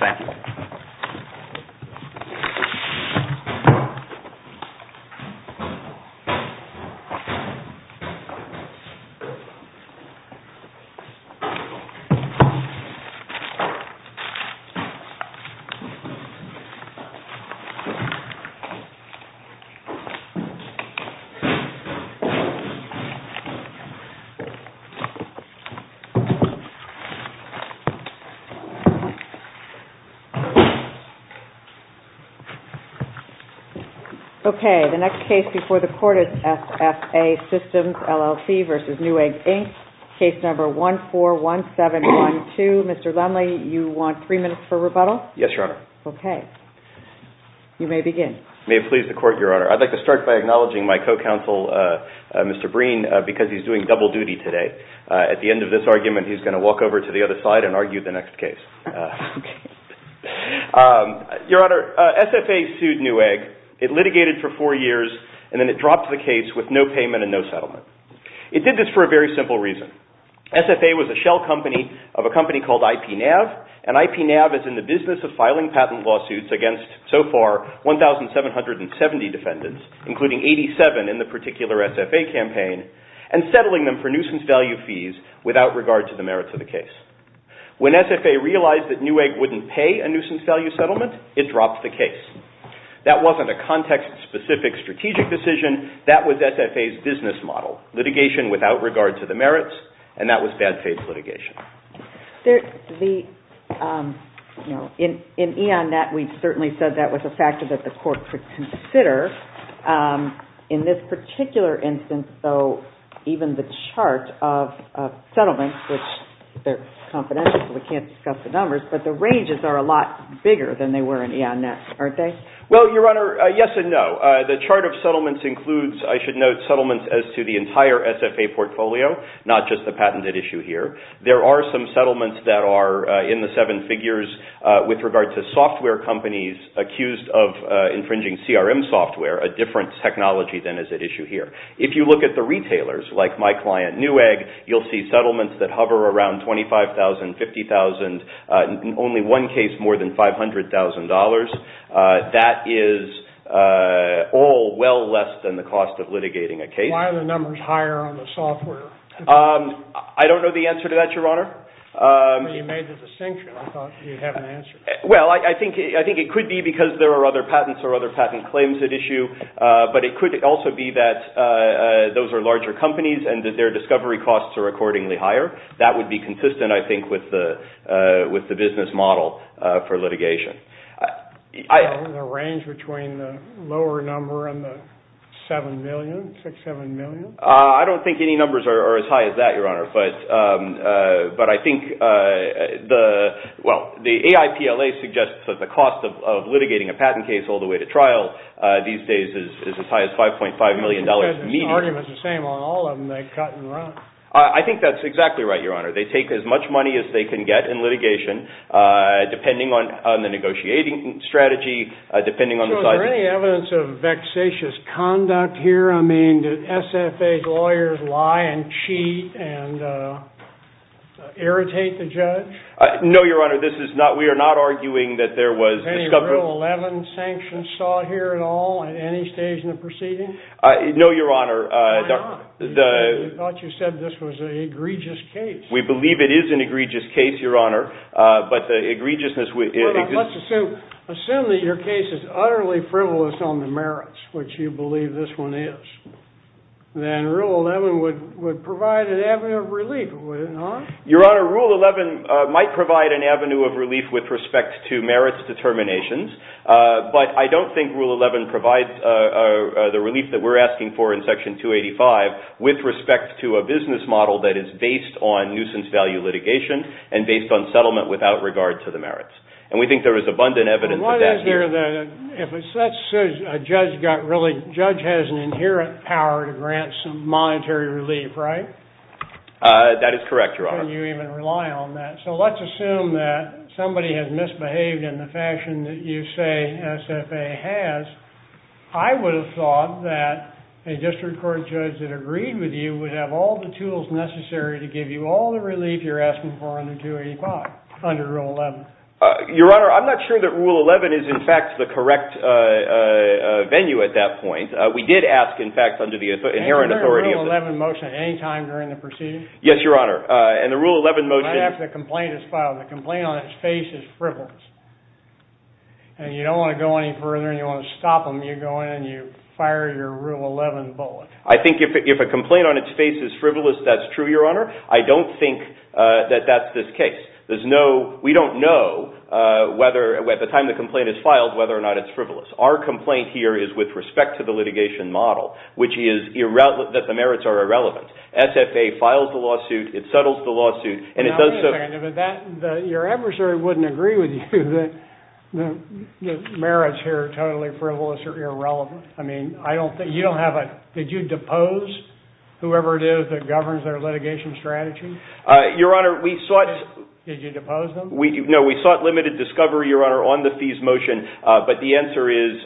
Thank you. Okay, the next case before the court is SFA Systems, LLC v. Newegg, Inc. Case number 141712. Mr. Lendley, you want three minutes for rebuttal? Yes, Your Honor. Okay. You may begin. May it please the court, Your Honor. I'd like to start by acknowledging my co-counsel, Mr. Breen, because he's doing double duty today. At the end of this argument, he's going to walk over to the other side and argue the next case. Your Honor, SFA sued Newegg. It litigated for four years, and then it dropped the case with no payment and no settlement. It did this for a very simple reason. SFA was a shell company of a company called IPNAV, and IPNAV is in the business of filing patent lawsuits against, so far, 1,770 defendants, including 87 in the particular SFA campaign, and settling them for nuisance value fees without regard to the merits of the case. When SFA realized that Newegg wouldn't pay a nuisance value settlement, it dropped the case. That wasn't a context-specific strategic decision. That was SFA's business model, litigation without regard to the merits, and that was bad faith litigation. In E.O.N.Net, we certainly said that was a factor that the court could consider. In this particular instance, though, even the chart of settlements, which they're confidential, so we can't discuss the numbers, but the ranges are a lot bigger than they were in E.O.N.Net, aren't they? Well, Your Honor, yes and no. The chart of settlements includes, I should note, settlements as to the entire SFA portfolio, not just the patented issue here. There are some settlements that are in the seven figures with regard to software companies accused of infringing CRM software, a different technology than is at issue here. If you look at the retailers, like my client Newegg, you'll see settlements that hover around $25,000, $50,000, in only one case more than $500,000. That is all well less than the cost of litigating a case. Why are the numbers higher on the software? I don't know the answer to that, Your Honor. You made the distinction. I thought you'd have an answer. Well, I think it could be because there are other patents or other patent claims at issue, but it could also be that those are larger companies and that their discovery costs are accordingly higher. That would be consistent, I think, with the business model for litigation. The range between the lower number and the $7 million, $6 million, $7 million? I don't think any numbers are as high as that, Your Honor. But I think the AIPLA suggests that the cost of litigating a patent case all the way to trial these days is as high as $5.5 million median. The argument is the same on all of them. They cut and run. I think that's exactly right, Your Honor. They take as much money as they can get in litigation, depending on the negotiating strategy, depending on the size… Is there any evidence of vexatious conduct here? I mean, do SFA lawyers lie and cheat and irritate the judge? No, Your Honor. We are not arguing that there was… Any Rule 11 sanctions sought here at all at any stage in the proceeding? No, Your Honor. Why not? I thought you said this was an egregious case. We believe it is an egregious case, Your Honor, but the egregiousness… Let's assume that your case is utterly frivolous on the merits, which you believe this one is. Then Rule 11 would provide an avenue of relief, would it not? Your Honor, Rule 11 might provide an avenue of relief with respect to merits determinations. But I don't think Rule 11 provides the relief that we're asking for in Section 285 with respect to a business model that is based on nuisance value litigation and based on settlement without regard to the merits. And we think there is abundant evidence of that here. If a judge has an inherent power to grant some monetary relief, right? That is correct, Your Honor. Can you even rely on that? So let's assume that somebody has misbehaved in the fashion that you say SFA has. I would have thought that a district court judge that agreed with you would have all the tools necessary to give you all the relief you're asking for under 285, under Rule 11. Your Honor, I'm not sure that Rule 11 is, in fact, the correct venue at that point. We did ask, in fact, under the inherent authority of… Isn't there a Rule 11 motion at any time during the proceedings? Yes, Your Honor. And the Rule 11 motion… I have the complaint as filed. The complaint on its face is frivolous. And you don't want to go any further and you want to stop them, you go in and you fire your Rule 11 bullet. I think if a complaint on its face is frivolous, that's true, Your Honor. I don't think that that's this case. We don't know, at the time the complaint is filed, whether or not it's frivolous. Our complaint here is with respect to the litigation model, which is that the merits are irrelevant. SFA files the lawsuit, it settles the lawsuit, and it does so… Now, wait a second. Your adversary wouldn't agree with you that the merits here are totally frivolous or irrelevant. I mean, you don't have a… Did you depose whoever it is that governs their litigation strategy? Your Honor, we sought… Did you depose them? No, we sought limited discovery, Your Honor, on the fees motion, but the answer is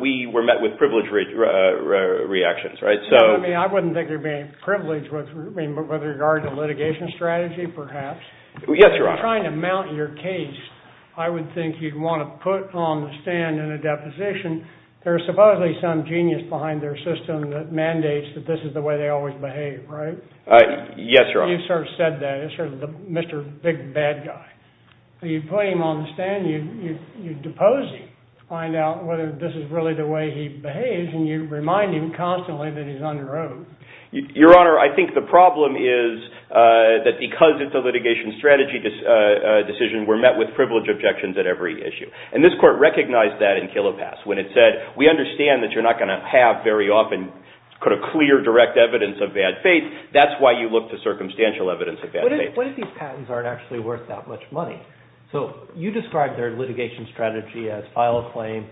we were met with privileged reactions. I mean, I wouldn't think you're being privileged with regard to litigation strategy, perhaps. Yes, Your Honor. If you're trying to mount your case, I would think you'd want to put on the stand in a deposition, there's supposedly some genius behind their system that mandates that this is the way they always behave, right? Yes, Your Honor. You sort of said that. It's sort of the Mr. Big Bad Guy. You'd put him on the stand, you'd depose him, find out whether this is really the way he behaves, and you'd remind him constantly that he's under oath. Your Honor, I think the problem is that because it's a litigation strategy decision, we're met with privilege objections at every issue. And this Court recognized that in Killepass when it said, we understand that you're not going to have very often clear, direct evidence of bad faith. That's why you look to circumstantial evidence of bad faith. What if these patents aren't actually worth that much money? So you described their litigation strategy as file a claim,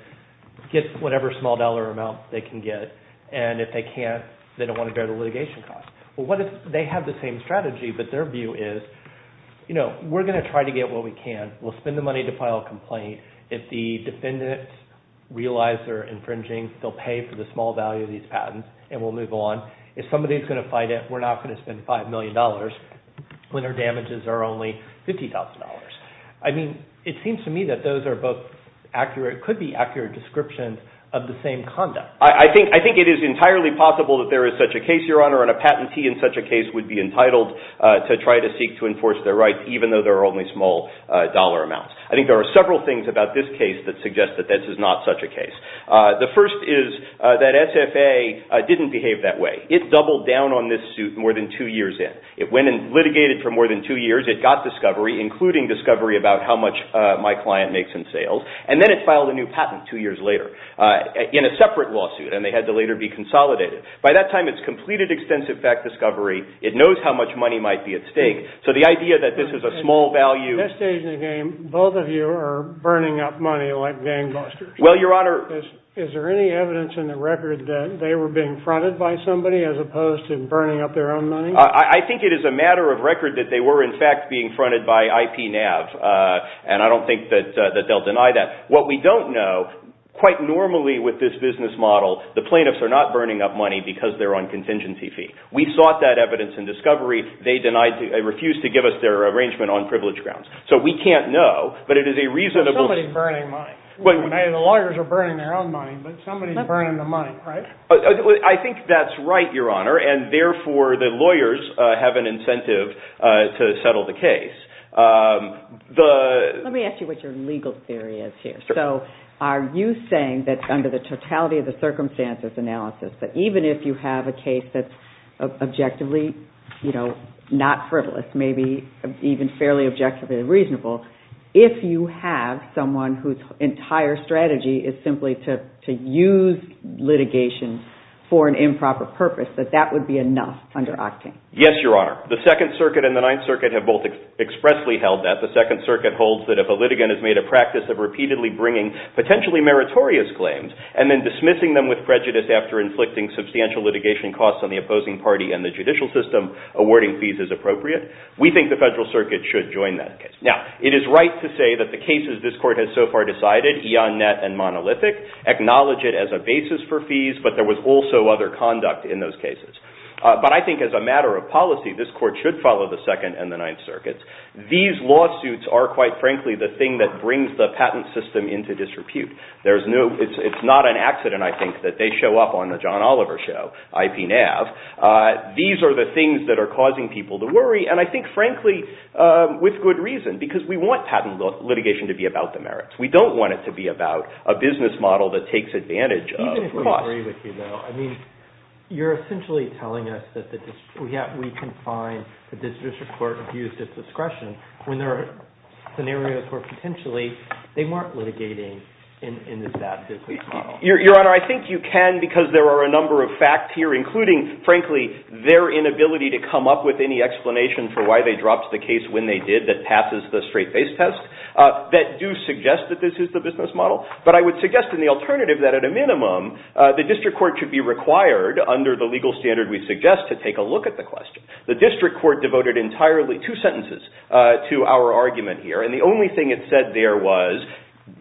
get whatever small dollar amount they can get, and if they can't, they don't want to bear the litigation cost. Well, what if they have the same strategy, but their view is, you know, we're going to try to get what we can. We'll spend the money to file a complaint. If the defendants realize they're infringing, they'll pay for the small value of these patents, and we'll move on. If somebody's going to fight it, we're not going to spend $5 million when their damages are only $50,000. I mean, it seems to me that those are both accurate, could be accurate descriptions of the same conduct. I think it is entirely possible that there is such a case, Your Honor, and a patentee in such a case would be entitled to try to seek to enforce their rights, even though there are only small dollar amounts. I think there are several things about this case that suggest that this is not such a case. The first is that SFA didn't behave that way. It doubled down on this suit more than two years in. It went and litigated for more than two years. It got discovery, including discovery about how much my client makes in sales, and then it filed a new patent two years later in a separate lawsuit, and they had to later be consolidated. By that time, it's completed extensive fact discovery. It knows how much money might be at stake. So the idea that this is a small value – At this stage in the game, both of you are burning up money like gangbusters. Well, Your Honor – Is there any evidence in the record that they were being fronted by somebody as opposed to burning up their own money? I think it is a matter of record that they were, in fact, being fronted by IPNAV, and I don't think that they'll deny that. What we don't know, quite normally with this business model, the plaintiffs are not burning up money because they're on contingency fee. We sought that evidence in discovery. They refused to give us their arrangement on privilege grounds. So we can't know, but it is a reasonable – Somebody's burning money. The lawyers are burning their own money, but somebody's burning the money, right? I think that's right, Your Honor, and therefore the lawyers have an incentive to settle the case. Let me ask you what your legal theory is here. So are you saying that under the totality of the circumstances analysis, that even if you have a case that's objectively not frivolous, maybe even fairly objectively reasonable, if you have someone whose entire strategy is simply to use litigation for an improper purpose, that that would be enough under Octane? Yes, Your Honor. The Second Circuit and the Ninth Circuit have both expressly held that. The Second Circuit holds that if a litigant has made a practice of repeatedly bringing potentially meritorious claims and then dismissing them with prejudice after inflicting substantial litigation costs on the opposing party and the judicial system, awarding fees is appropriate. We think the Federal Circuit should join that case. Now, it is right to say that the cases this Court has so far decided, E.On.Net and Monolithic, acknowledge it as a basis for fees, but there was also other conduct in those cases. But I think as a matter of policy, this Court should follow the Second and the Ninth Circuits. These lawsuits are, quite frankly, the thing that brings the patent system into disrepute. It's not an accident, I think, that they show up on the John Oliver show, IPNAV. These are the things that are causing people to worry, and I think, frankly, with good reason, because we want patent litigation to be about the merits. We don't want it to be about a business model that takes advantage of costs. Even if we agree with you, though, I mean, you're essentially telling us that we can find that this District Court abused its discretion when there are scenarios where, potentially, they weren't litigating in this bad business model. Your Honor, I think you can because there are a number of facts here, including, frankly, their inability to come up with any explanation for why they dropped the case when they did that passes the straight-face test, that do suggest that this is the business model. But I would suggest in the alternative that, at a minimum, the District Court should be required, under the legal standard we suggest, to take a look at the question. The District Court devoted entirely two sentences to our argument here, and the only thing it said there was,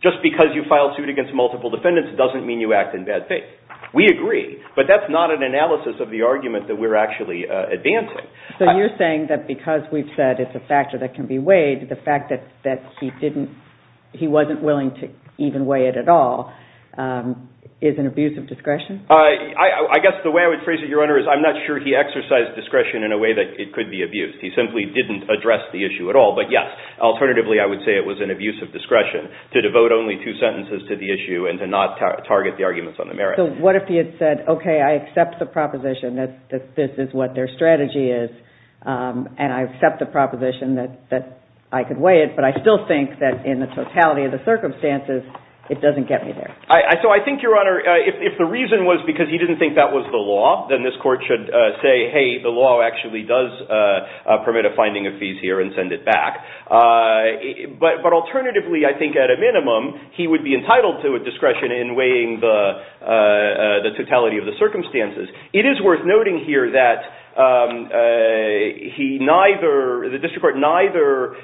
just because you filed suit against multiple defendants doesn't mean you act in bad faith. We agree, but that's not an analysis of the argument that we're actually advancing. So you're saying that because we've said it's a factor that can be weighed, the fact that he wasn't willing to even weigh it at all is an abuse of discretion? I guess the way I would phrase it, Your Honor, is I'm not sure he exercised discretion in a way that it could be abused. He simply didn't address the issue at all. But, yes, alternatively I would say it was an abuse of discretion to devote only two sentences to the issue and to not target the arguments on the merits. So what if he had said, okay, I accept the proposition that this is what their strategy is, and I accept the proposition that I could weigh it, but I still think that in the totality of the circumstances it doesn't get me there. So I think, Your Honor, if the reason was because he didn't think that was the law, then this Court should say, hey, the law actually does permit a finding of fees here and send it back. But alternatively, I think at a minimum, he would be entitled to a discretion in weighing the totality of the circumstances. It is worth noting here that the District Court neither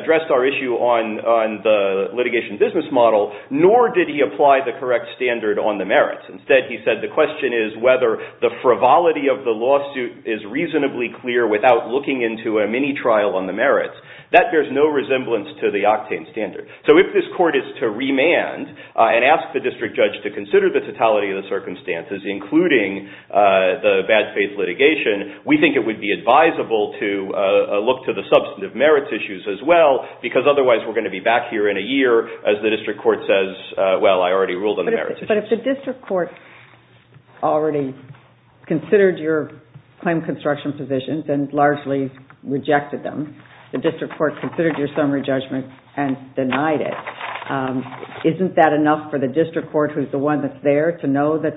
addressed our issue on the litigation business model, nor did he apply the correct standard on the merits. Instead, he said the question is whether the frivolity of the lawsuit is reasonably clear without looking into a mini trial on the merits. That bears no resemblance to the octane standard. So if this Court is to remand and ask the District Judge to consider the totality of the circumstances, including the bad faith litigation, we think it would be advisable to look to the substantive merits issues as well, because otherwise we're going to be back here in a year as the District Court says, well, I already ruled on the merits issues. But if the District Court already considered your claim construction positions and largely rejected them, the District Court considered your summary judgment and denied it, isn't that enough for the District Court, who's the one that's there, to know that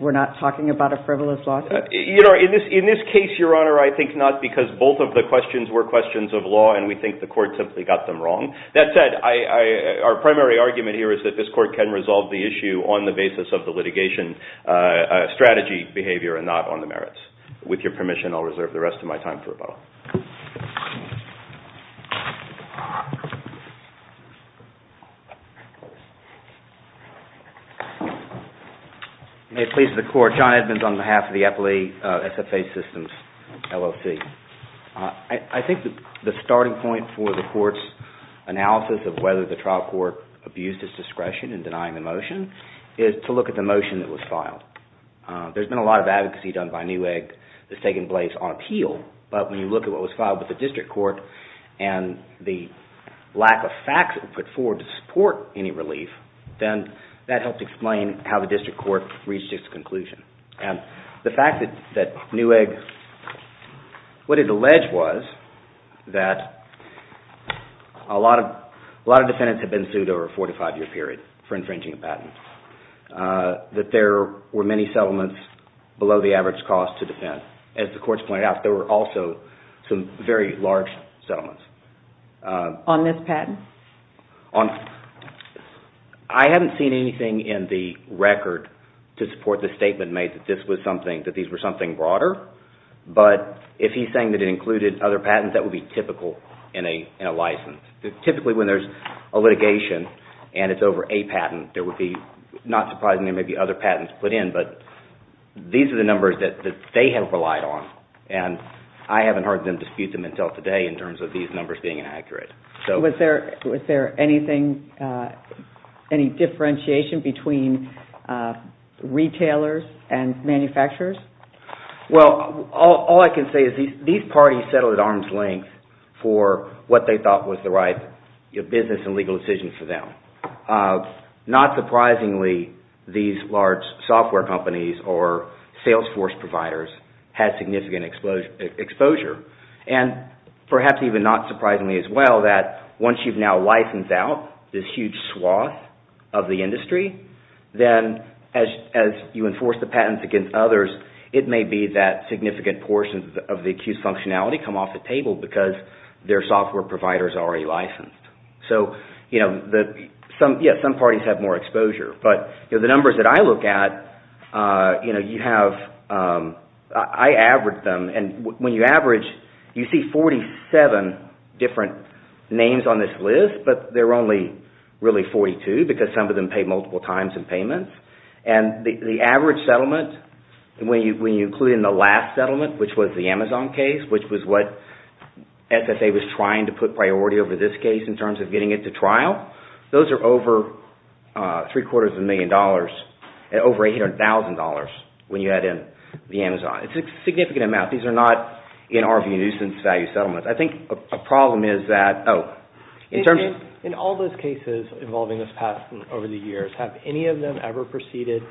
we're not talking about a frivolous lawsuit? In this case, Your Honor, I think not, because both of the questions were questions of law and we think the Court simply got them wrong. That said, our primary argument here is that this Court can resolve the issue on the basis of the litigation strategy behavior and not on the merits. With your permission, I'll reserve the rest of my time for rebuttal. May it please the Court, John Edmonds on behalf of the Appellee SFA Systems, LLC. I think the starting point for the Court's analysis of whether the trial court abused its discretion in denying the motion is to look at the motion that was filed. There's been a lot of advocacy done by Newegg that's taken place on appeal, but when you look at what was filed with the District Court and the lack of facts that were put forward to support any relief, then that helps explain how the District Court reached its conclusion. The fact that Newegg – what it alleged was that a lot of defendants had been sued over a four- to five-year period for infringing a patent, that there were many settlements below the average cost to defend. As the Court's pointed out, there were also some very large settlements. On this patent? I haven't seen anything in the record to support the statement made that these were something broader, but if he's saying that it included other patents, that would be typical in a license. Typically, when there's a litigation and it's over a patent, it would be not surprising there may be other patents put in, but these are the numbers that they have relied on, and I haven't heard them dispute them until today in terms of these numbers being inaccurate. Was there any differentiation between retailers and manufacturers? Well, all I can say is these parties settled at arm's length for what they thought was the right business and legal decision for them. Not surprisingly, these large software companies or sales force providers had significant exposure, and perhaps even not surprisingly as well, that once you've now licensed out this huge swath of the industry, then as you enforce the patents against others, it may be that significant portions of the accused functionality come off the table because their software providers are already licensed. So, yes, some parties have more exposure, but the numbers that I look at, I average them, and when you average, you see 47 different names on this list, but there are only really 42 because some of them pay multiple times in payments, and the average settlement, when you include in the last settlement, which was the Amazon case, which was what SSA was trying to put priority over this case in terms of getting it to trial, those are over three quarters of a million dollars, over $800,000 when you add in the Amazon. It's a significant amount. These are not, in our view, nuisance value settlements. I think a problem is that, oh, in terms of... In all those cases involving this patent over the years, have any of them ever proceeded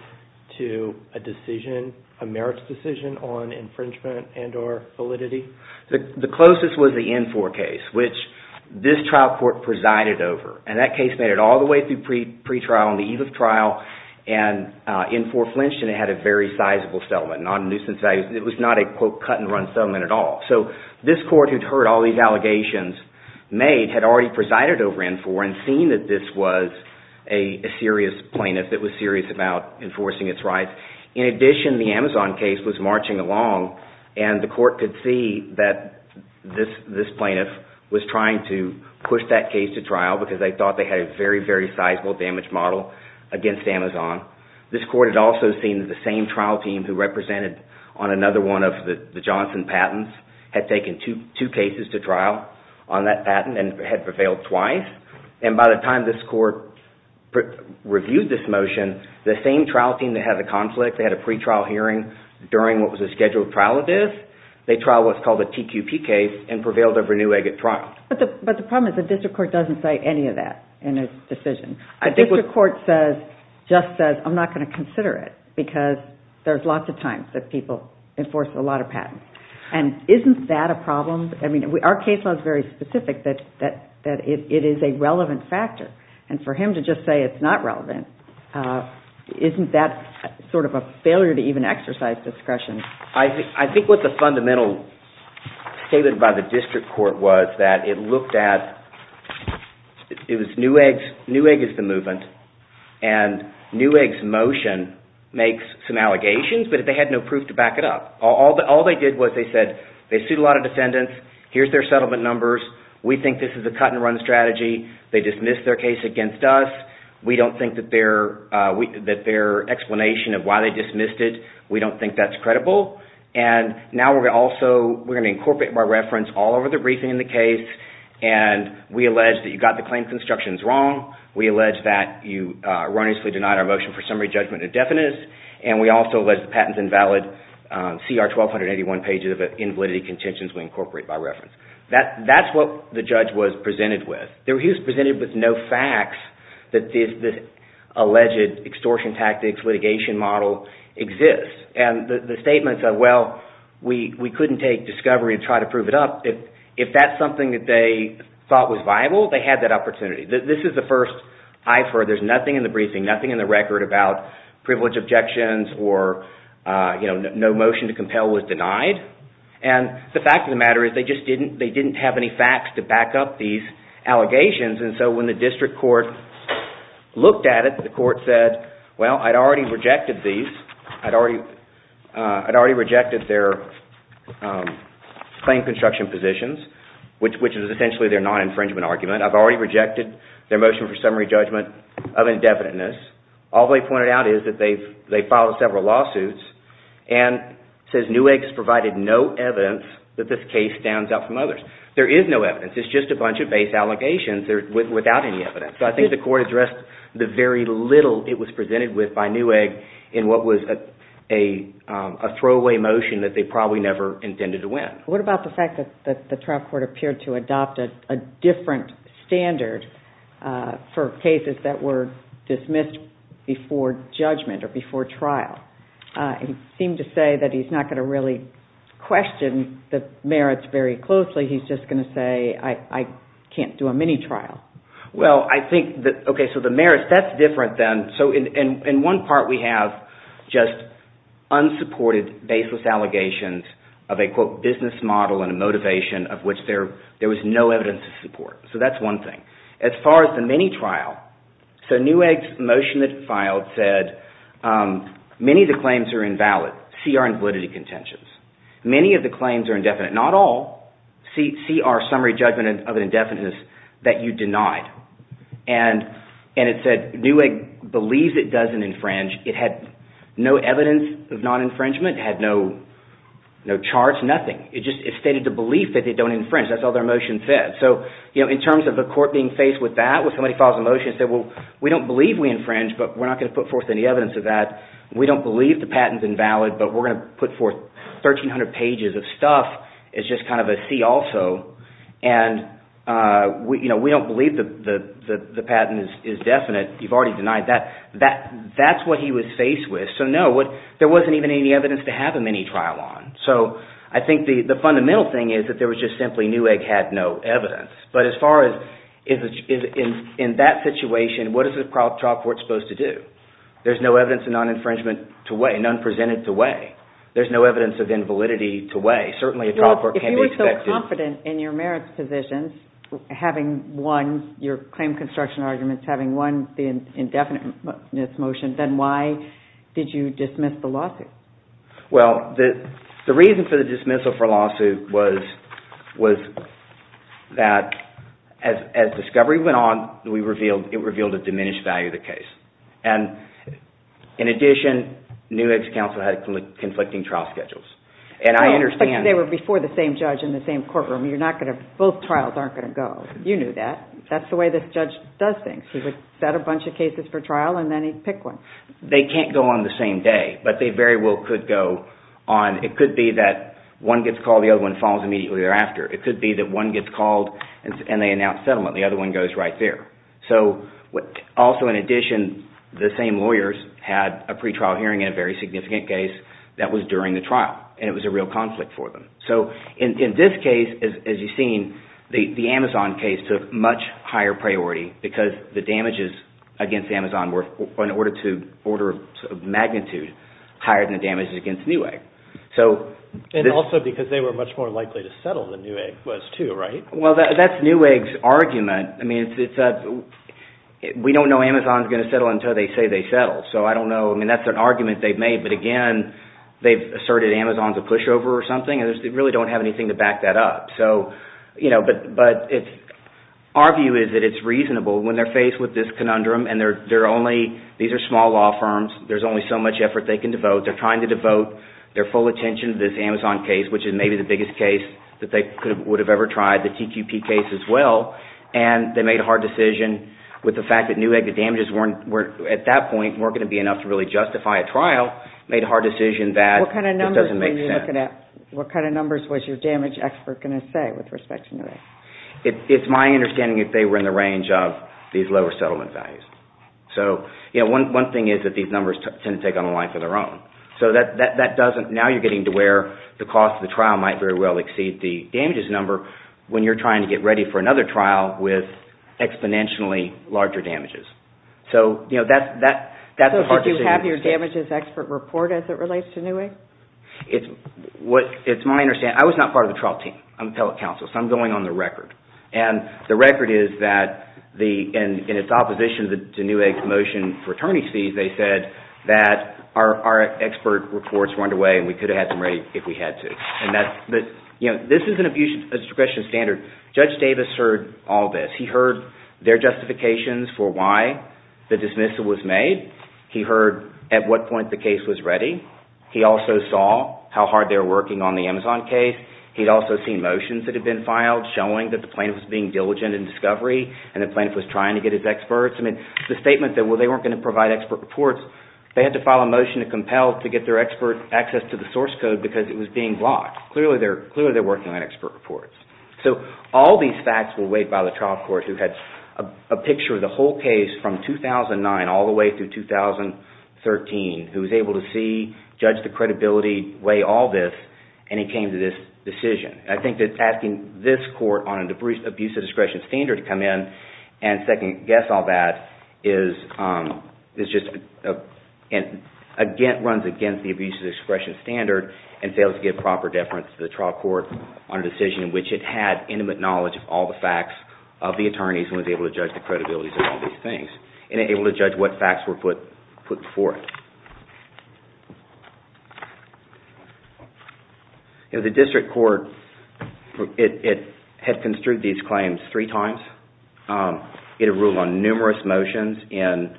to a decision, a merits decision on infringement and or validity? The closest was the N4 case, which this trial court presided over, and that case made it all the way through pretrial on the eve of trial, and N4 flinched, and it had a very sizable settlement, not a nuisance value... It was not a, quote, cut-and-run settlement at all. So this court, who'd heard all these allegations made, had already presided over N4 and seen that this was a serious plaintiff that was serious about enforcing its rights. In addition, the Amazon case was marching along, and the court could see that this plaintiff was trying to push that case to trial because they thought they had a very, very sizable damage model against Amazon. This court had also seen that the same trial team who represented on another one of the Johnson patents had taken two cases to trial on that patent and had prevailed twice, and by the time this court reviewed this motion, the same trial team that had the conflict, they had a pretrial hearing during what was a scheduled trial of this, they trialed what's called a TQP case and prevailed over a new agate trial. But the problem is the district court doesn't say any of that in its decision. The district court just says, I'm not going to consider it because there's lots of times that people enforce a lot of patents. And isn't that a problem? I mean, our case law is very specific that it is a relevant factor, and for him to just say it's not relevant, isn't that sort of a failure to even exercise discretion? I think what the fundamental statement by the district court was that it looked at, it was Newegg is the movement, and Newegg's motion makes some allegations, but they had no proof to back it up. All they did was they said, they sued a lot of defendants, here's their settlement numbers, we think this is a cut-and-run strategy, they dismissed their case against us, we don't think that their explanation of why they dismissed it, we don't think that's credible, and now we're going to incorporate, by reference, all of the briefing in the case, and we allege that you got the claim constructions wrong, we allege that you erroneously denied our motion for summary judgment indefinite, and we also allege that the patent's invalid, see our 1,281 pages of invalidity contentions we incorporate by reference. That's what the judge was presented with. He was presented with no facts that the alleged extortion tactics litigation model exists. And the statement said, well, we couldn't take discovery and try to prove it up. If that's something that they thought was viable, they had that opportunity. This is the first I've heard, there's nothing in the briefing, nothing in the record about privilege objections, or no motion to compel was denied. And the fact of the matter is, they just didn't have any facts to back up these allegations, and so when the district court looked at it, the court said, well, I'd already rejected these, I'd already rejected their claim construction positions, which is essentially their non-infringement argument. I've already rejected their motion for summary judgment of indefiniteness. All they pointed out is that they filed several lawsuits, and says Newegg's provided no evidence that this case stands out from others. There is no evidence. It's just a bunch of base allegations without any evidence. So I think the court addressed the very little it was presented with by Newegg in what was a throwaway motion that they probably never intended to win. What about the fact that the trial court appeared to adopt a different standard for cases that were dismissed before judgment or before trial? It seemed to say that he's not going to really question the merits very closely, he's just going to say, I can't do a mini-trial. Well, I think, okay, so the merits, that's different than, so in one part we have just unsupported baseless allegations of a, quote, business model and a motivation of which there was no evidence to support. So that's one thing. As far as the mini-trial, so Newegg's motion that he filed said, many of the claims are invalid, CR and validity contentions. Many of the claims are indefinite. Not all. CR, summary judgment of an indefiniteness, that you denied. And it said Newegg believes it doesn't infringe. It had no evidence of non-infringement. It had no charts, nothing. It just stated the belief that they don't infringe. That's all their motion said. So, you know, in terms of the court being faced with that, when somebody files a motion and says, well, we don't believe we infringe, but we're not going to put forth any evidence of that. We don't believe the patent's invalid, but we're going to put forth 1,300 pages of stuff as just kind of a see-also. And, you know, we don't believe the patent is definite. You've already denied that. That's what he was faced with. So, no, there wasn't even any evidence to have a mini-trial on. So I think the fundamental thing is that there was just simply Newegg had no evidence. But as far as in that situation, what is the trial court supposed to do? There's no evidence of non-infringement to weigh, none presented to weigh. There's no evidence of invalidity to weigh. Certainly, a trial court can't be expected. If you were so confident in your merits positions, having won your claim construction arguments, having won the indefiniteness motion, then why did you dismiss the lawsuit? Well, the reason for the dismissal for lawsuit was that as discovery went on, it revealed a diminished value of the case. And, in addition, Newegg's counsel had conflicting trial schedules. And I understand that. But they were before the same judge in the same courtroom. Both trials aren't going to go. You knew that. That's the way this judge does things. He would set a bunch of cases for trial, and then he'd pick one. They can't go on the same day, but they very well could go on. It could be that one gets called, the other one falls immediately thereafter. It could be that one gets called, and they announce settlement. The other one goes right there. Also, in addition, the same lawyers had a pretrial hearing in a very significant case that was during the trial. And it was a real conflict for them. So, in this case, as you've seen, the Amazon case took much higher priority because the damages against Amazon were, in order of magnitude, higher than the damages against Newegg. And also because they were much more likely to settle than Newegg was too, right? Well, that's Newegg's argument. I mean, we don't know Amazon's going to settle until they say they settled. So, I don't know. I mean, that's an argument they've made. But, again, they've asserted Amazon's a pushover or something, and they really don't have anything to back that up. So, you know, but our view is that it's reasonable when they're faced with this conundrum, and they're only – these are small law firms. There's only so much effort they can devote. They're trying to devote their full attention to this Amazon case, which is maybe the biggest case that they would have ever tried, the TQP case as well. And they made a hard decision with the fact that Newegg, the damages weren't – at that point weren't going to be enough to really justify a trial, made a hard decision that just doesn't make sense. What kind of numbers were you looking at? What kind of numbers was your damage expert going to say with respect to Newegg? It's my understanding that they were in the range of these lower settlement values. So, you know, one thing is that these numbers tend to take on a life of their own. So that doesn't – now you're getting to where the cost of the trial might very well exceed the damages number when you're trying to get ready for another trial with exponentially larger damages. So, you know, that's a hard decision to make. So did you have your damages expert report as it relates to Newegg? It's my understanding – I was not part of the trial team. I'm appellate counsel, so I'm going on the record. And the record is that in its opposition to Newegg's motion for attorney's fees, they said that our expert reports were underway and we could have had them ready if we had to. And that's – you know, this is an abuse of discretion standard. Judge Davis heard all this. He heard their justifications for why the dismissal was made. He heard at what point the case was ready. He also saw how hard they were working on the Amazon case. He'd also seen motions that had been filed showing that the plaintiff was being diligent in discovery and the plaintiff was trying to get his experts. I mean, the statement that, well, they weren't going to provide expert reports, they had to file a motion to compel to get their expert access to the source code because it was being blocked. Clearly, they're working on expert reports. So all these facts were weighed by the trial court who had a picture of the whole case from 2009 all the way through 2013, who was able to see, judge the credibility, weigh all this, and it came to this decision. I think that asking this court on an abuse of discretion standard to come in and second-guess all that is just – runs against the abuse of discretion standard and fails to give proper deference to the trial court on a decision in which it had intimate knowledge of all the facts of the attorneys and was able to judge the credibility of all these things and able to judge what facts were put before it. In the district court, it had construed these claims three times. It had ruled on numerous motions in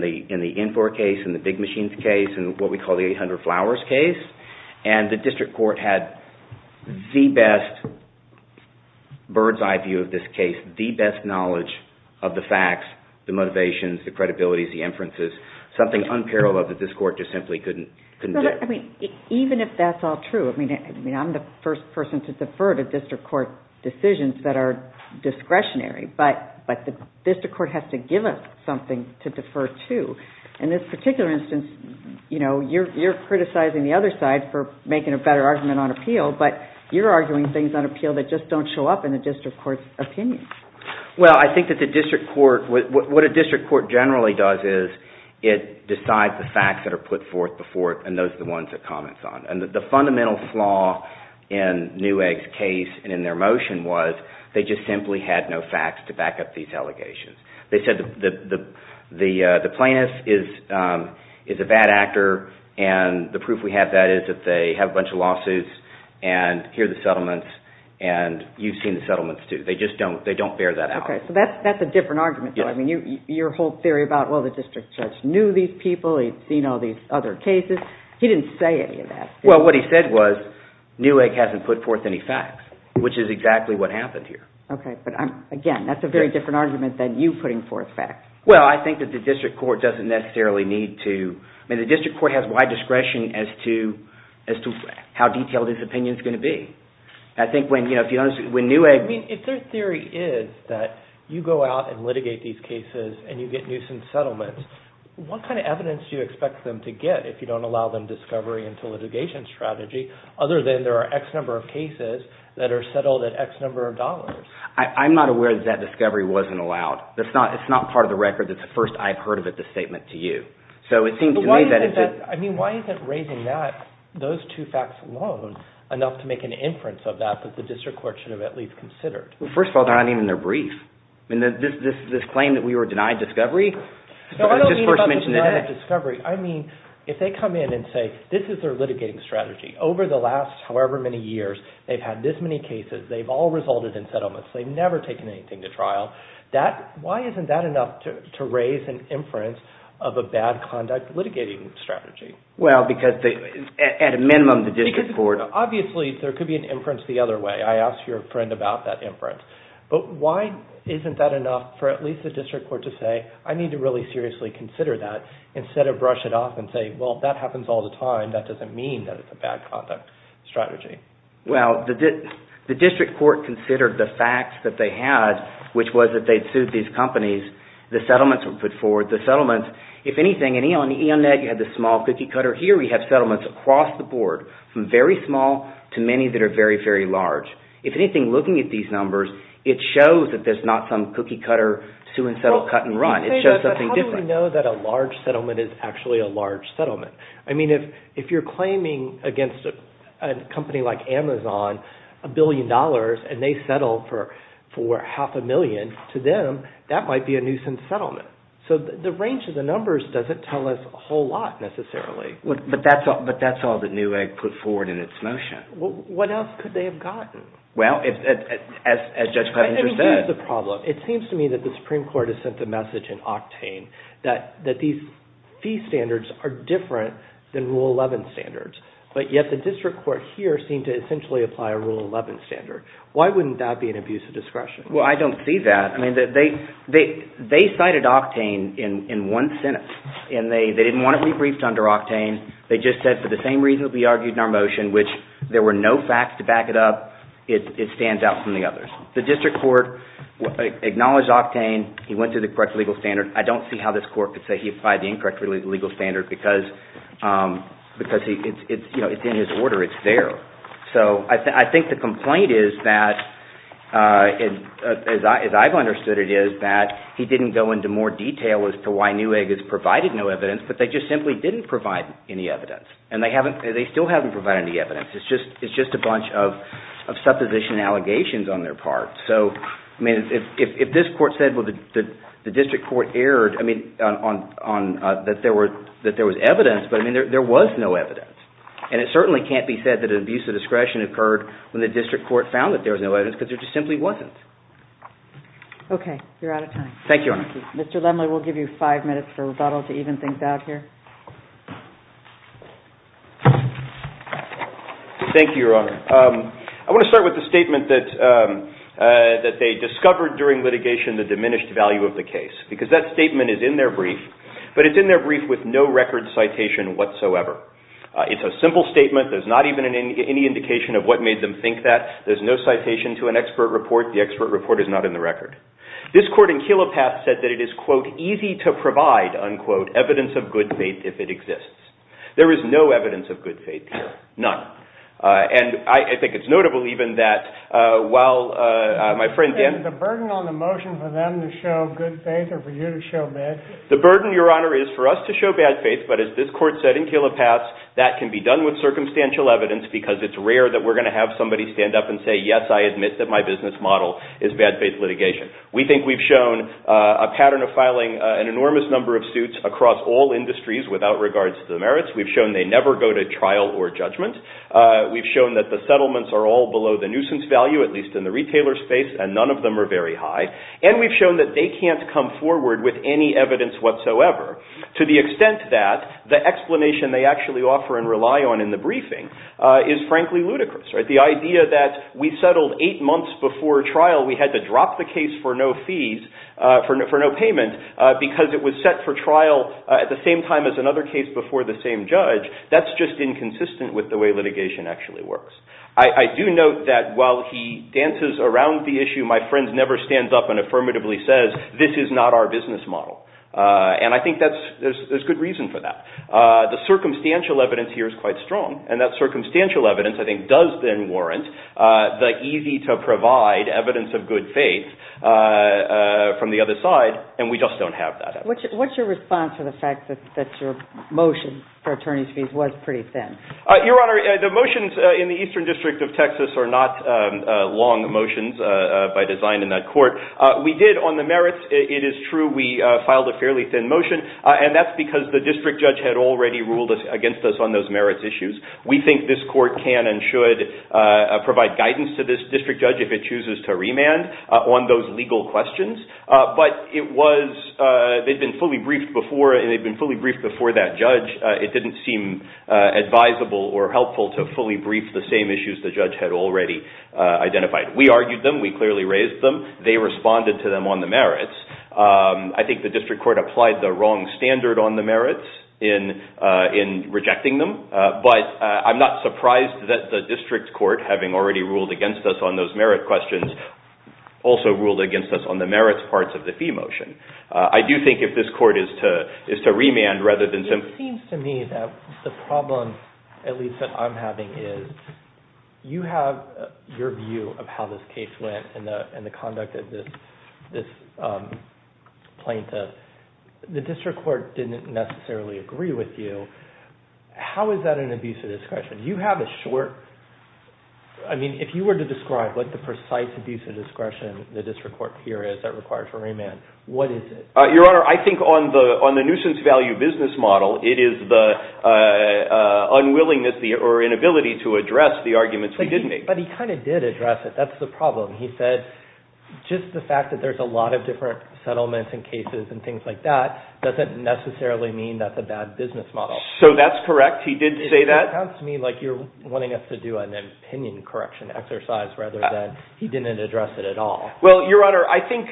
the Infor case, in the Big Machines case, in what we call the 800 Flowers case, and the district court had the best bird's-eye view of this case, the best knowledge of the facts, the motivations, the credibility, the inferences, something unparalleled that this court just simply couldn't do. Even if that's all true, I'm the first person to defer to district court decisions that are discretionary, but the district court has to give us something to defer to. In this particular instance, you're criticizing the other side for making a better argument on appeal, but you're arguing things on appeal that just don't show up in the district court's opinion. What a district court generally does is it decides the facts that are put forth before it, and those are the ones it comments on. The fundamental flaw in Newegg's case and in their motion was they just simply had no facts to back up these allegations. They said the plaintiff is a bad actor, and the proof we have of that is that they have a bunch of lawsuits and here are the settlements, and you've seen the settlements too. They just don't bear that out. Okay, so that's a different argument. I mean, your whole theory about, well, the district judge knew these people. He'd seen all these other cases. He didn't say any of that. Well, what he said was Newegg hasn't put forth any facts, which is exactly what happened here. Okay, but again, that's a very different argument than you putting forth facts. Well, I think that the district court doesn't necessarily need to – I mean, the district court has wide discretion as to how detailed its opinion is going to be. I think when Newegg – I mean, if their theory is that you go out and litigate these cases and you get nuisance settlements, what kind of evidence do you expect them to get if you don't allow them discovery into litigation strategy, other than there are X number of cases that are settled at X number of dollars? I'm not aware that that discovery wasn't allowed. It's not part of the record that's the first I've heard of it, the statement to you. I mean, why isn't raising those two facts alone enough to make an inference of that that the district court should have at least considered? Well, first of all, they're not even in their brief. I mean, this claim that we were denied discovery – No, I don't mean about the denied discovery. I mean, if they come in and say this is their litigating strategy. Over the last however many years, they've had this many cases. They've all resulted in settlements. They've never taken anything to trial. Why isn't that enough to raise an inference of a bad conduct litigating strategy? Well, because at a minimum the district court – Obviously, there could be an inference the other way. I asked your friend about that inference. But why isn't that enough for at least the district court to say, I need to really seriously consider that instead of brush it off and say, well, that happens all the time. That doesn't mean that it's a bad conduct strategy. Well, the district court considered the facts that they had, which was that they'd sued these companies. The settlements were put forward. The settlements, if anything – In Ioneg, you had the small cookie cutter. Here we have settlements across the board, from very small to many that are very, very large. If anything, looking at these numbers, it shows that there's not some cookie cutter, sue and settle, cut and run. It shows something different. How do we know that a large settlement is actually a large settlement? I mean, if you're claiming against a company like Amazon a billion dollars and they settle for half a million to them, that might be a nuisance settlement. So the range of the numbers doesn't tell us a whole lot, necessarily. But that's all that Newegg put forward in its motion. What else could they have gotten? Well, as Judge Plevenger said – Here's the problem. It seems to me that the Supreme Court has sent the message in octane that these fee standards are different than Rule 11 standards. But yet the district court here seemed to essentially apply a Rule 11 standard. Why wouldn't that be an abuse of discretion? Well, I don't see that. I mean, they cited octane in one sentence, and they didn't want to be briefed under octane. They just said, for the same reason that we argued in our motion, which there were no facts to back it up, it stands out from the others. The district court acknowledged octane. He went through the correct legal standard. I don't see how this court could say he applied the incorrect legal standard because it's in his order. It's there. So I think the complaint is that, as I've understood it, is that he didn't go into more detail as to why Newegg has provided no evidence, but they just simply didn't provide any evidence. And they still haven't provided any evidence. It's just a bunch of supposition and allegations on their part. So, I mean, if this court said, well, the district court erred, I mean, that there was evidence, but, I mean, there was no evidence. And it certainly can't be said that an abuse of discretion occurred when the district court found that there was no evidence because there just simply wasn't. You're out of time. Thank you, Your Honor. Mr. Lemley, we'll give you five minutes for rebuttal to even things out here. Thank you, Your Honor. I want to start with the statement that they discovered during litigation the diminished value of the case. Because that statement is in their brief, but it's in their brief with no record citation whatsoever. It's a simple statement. There's not even any indication of what made them think that. There's no citation to an expert report. The expert report is not in the record. This court in Kelopath said that it is, quote, easy to provide, unquote, evidence of good faith if it exists. There is no evidence of good faith here. None. And I think it's notable even that while my friend Dan – Is the burden on the motion for them to show good faith or for you to show bad? The burden, Your Honor, is for us to show bad faith. But as this court said in Kelopath, that can be done with circumstantial evidence because it's rare that we're going to have somebody stand up and say, yes, I admit that my business model is bad faith litigation. We think we've shown a pattern of filing an enormous number of suits across all industries without regards to the merits. We've shown they never go to trial or judgment. We've shown that the settlements are all below the nuisance value, at least in the retailer space, and none of them are very high. And we've shown that they can't come forward with any evidence whatsoever to the extent that the explanation they actually offer and rely on in the briefing is frankly ludicrous, right? The idea that we settled eight months before trial, we had to drop the case for no fees, for no payment, because it was set for trial at the same time as another case before the same judge, that's just inconsistent with the way litigation actually works. I do note that while he dances around the issue, my friend never stands up and affirmatively says, this is not our business model. And I think there's good reason for that. The circumstantial evidence here is quite strong, and that circumstantial evidence I think does then warrant the easy-to-provide evidence of good faith from the other side, and we just don't have that evidence. What's your response to the fact that your motion for attorney's fees was pretty thin? Your Honor, the motions in the Eastern District of Texas are not long motions by design in that court. We did on the merits, it is true, we filed a fairly thin motion, and that's because the district judge had already ruled against us on those merits issues. We think this court can and should provide guidance to this district judge if it chooses to remand on those legal questions. But it was, they'd been fully briefed before, and they'd been fully briefed before that judge, it didn't seem advisable or helpful to fully brief the same issues the judge had already identified. We argued them, we clearly raised them, they responded to them on the merits. I think the district court applied the wrong standard on the merits in rejecting them, but I'm not surprised that the district court, having already ruled against us on those merit questions, also ruled against us on the merits parts of the fee motion. I do think if this court is to remand rather than simply... It seems to me that the problem, at least that I'm having, is you have your view of how this case went and the conduct of this plaintiff. The district court didn't necessarily agree with you. How is that an abuse of discretion? You have a short... I mean, if you were to describe what the precise abuse of discretion the district court here is that requires a remand, what is it? Your Honor, I think on the nuisance value business model, it is the unwillingness or inability to address the arguments we did make. But he kind of did address it. That's the problem. He said just the fact that there's a lot of different settlements and cases and things like that doesn't necessarily mean that's a bad business model. So that's correct? He did say that? That sounds to me like you're wanting us to do an opinion correction exercise rather than he didn't address it at all. Well, Your Honor, I think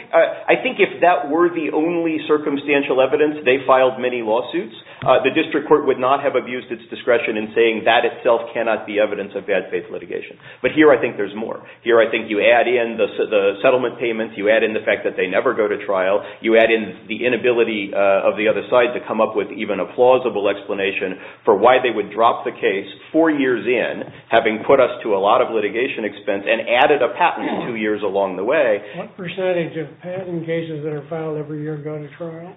if that were the only circumstantial evidence, they filed many lawsuits, the district court would not have abused its discretion in saying that itself cannot be evidence of bad faith litigation. But here I think there's more. Here I think you add in the settlement payments, you add in the fact that they never go to trial, you add in the inability of the other side to come up with even a plausible explanation for why they would drop the case four years in, having put us to a lot of litigation expense, and added a patent two years along the way. What percentage of patent cases that are filed every year go to trial?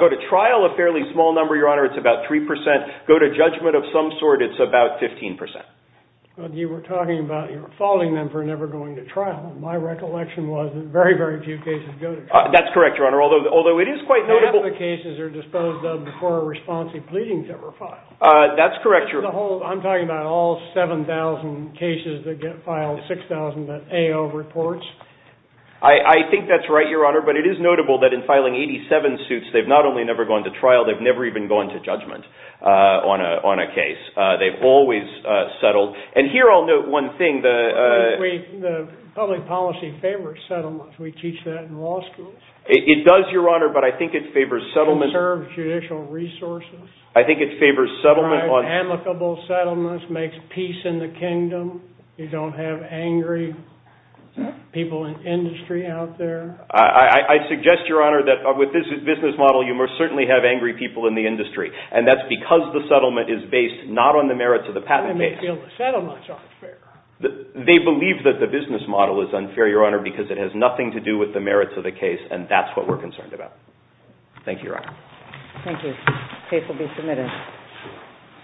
Go to trial, a fairly small number, Your Honor. It's about 3%. Go to judgment of some sort, it's about 15%. You were talking about you were faulting them for never going to trial. My recollection was that very, very few cases go to trial. That's correct, Your Honor, although it is quite notable. None of the cases are disposed of before a response to pleadings ever filed. That's correct, Your Honor. I'm talking about all 7,000 cases that get filed, 6,000 that AO reports. I think that's right, Your Honor, but it is notable that in filing 87 suits, they've not only never gone to trial, they've never even gone to judgment on a case. They've always settled. And here I'll note one thing. The public policy favors settlements. We teach that in law school. It does, Your Honor, but I think it favors settlements. It preserves judicial resources. I think it favors settlements. It provides amicable settlements, makes peace in the kingdom. You don't have angry people in industry out there. I suggest, Your Honor, that with this business model, you most certainly have angry people in the industry, and that's because the settlement is based not on the merits of the patent case. They may feel the settlement's unfair. They believe that the business model is unfair, Your Honor, because it has nothing to do with the merits of the case, and that's what we're concerned about. Thank you, Your Honor. Thank you. The case will be submitted.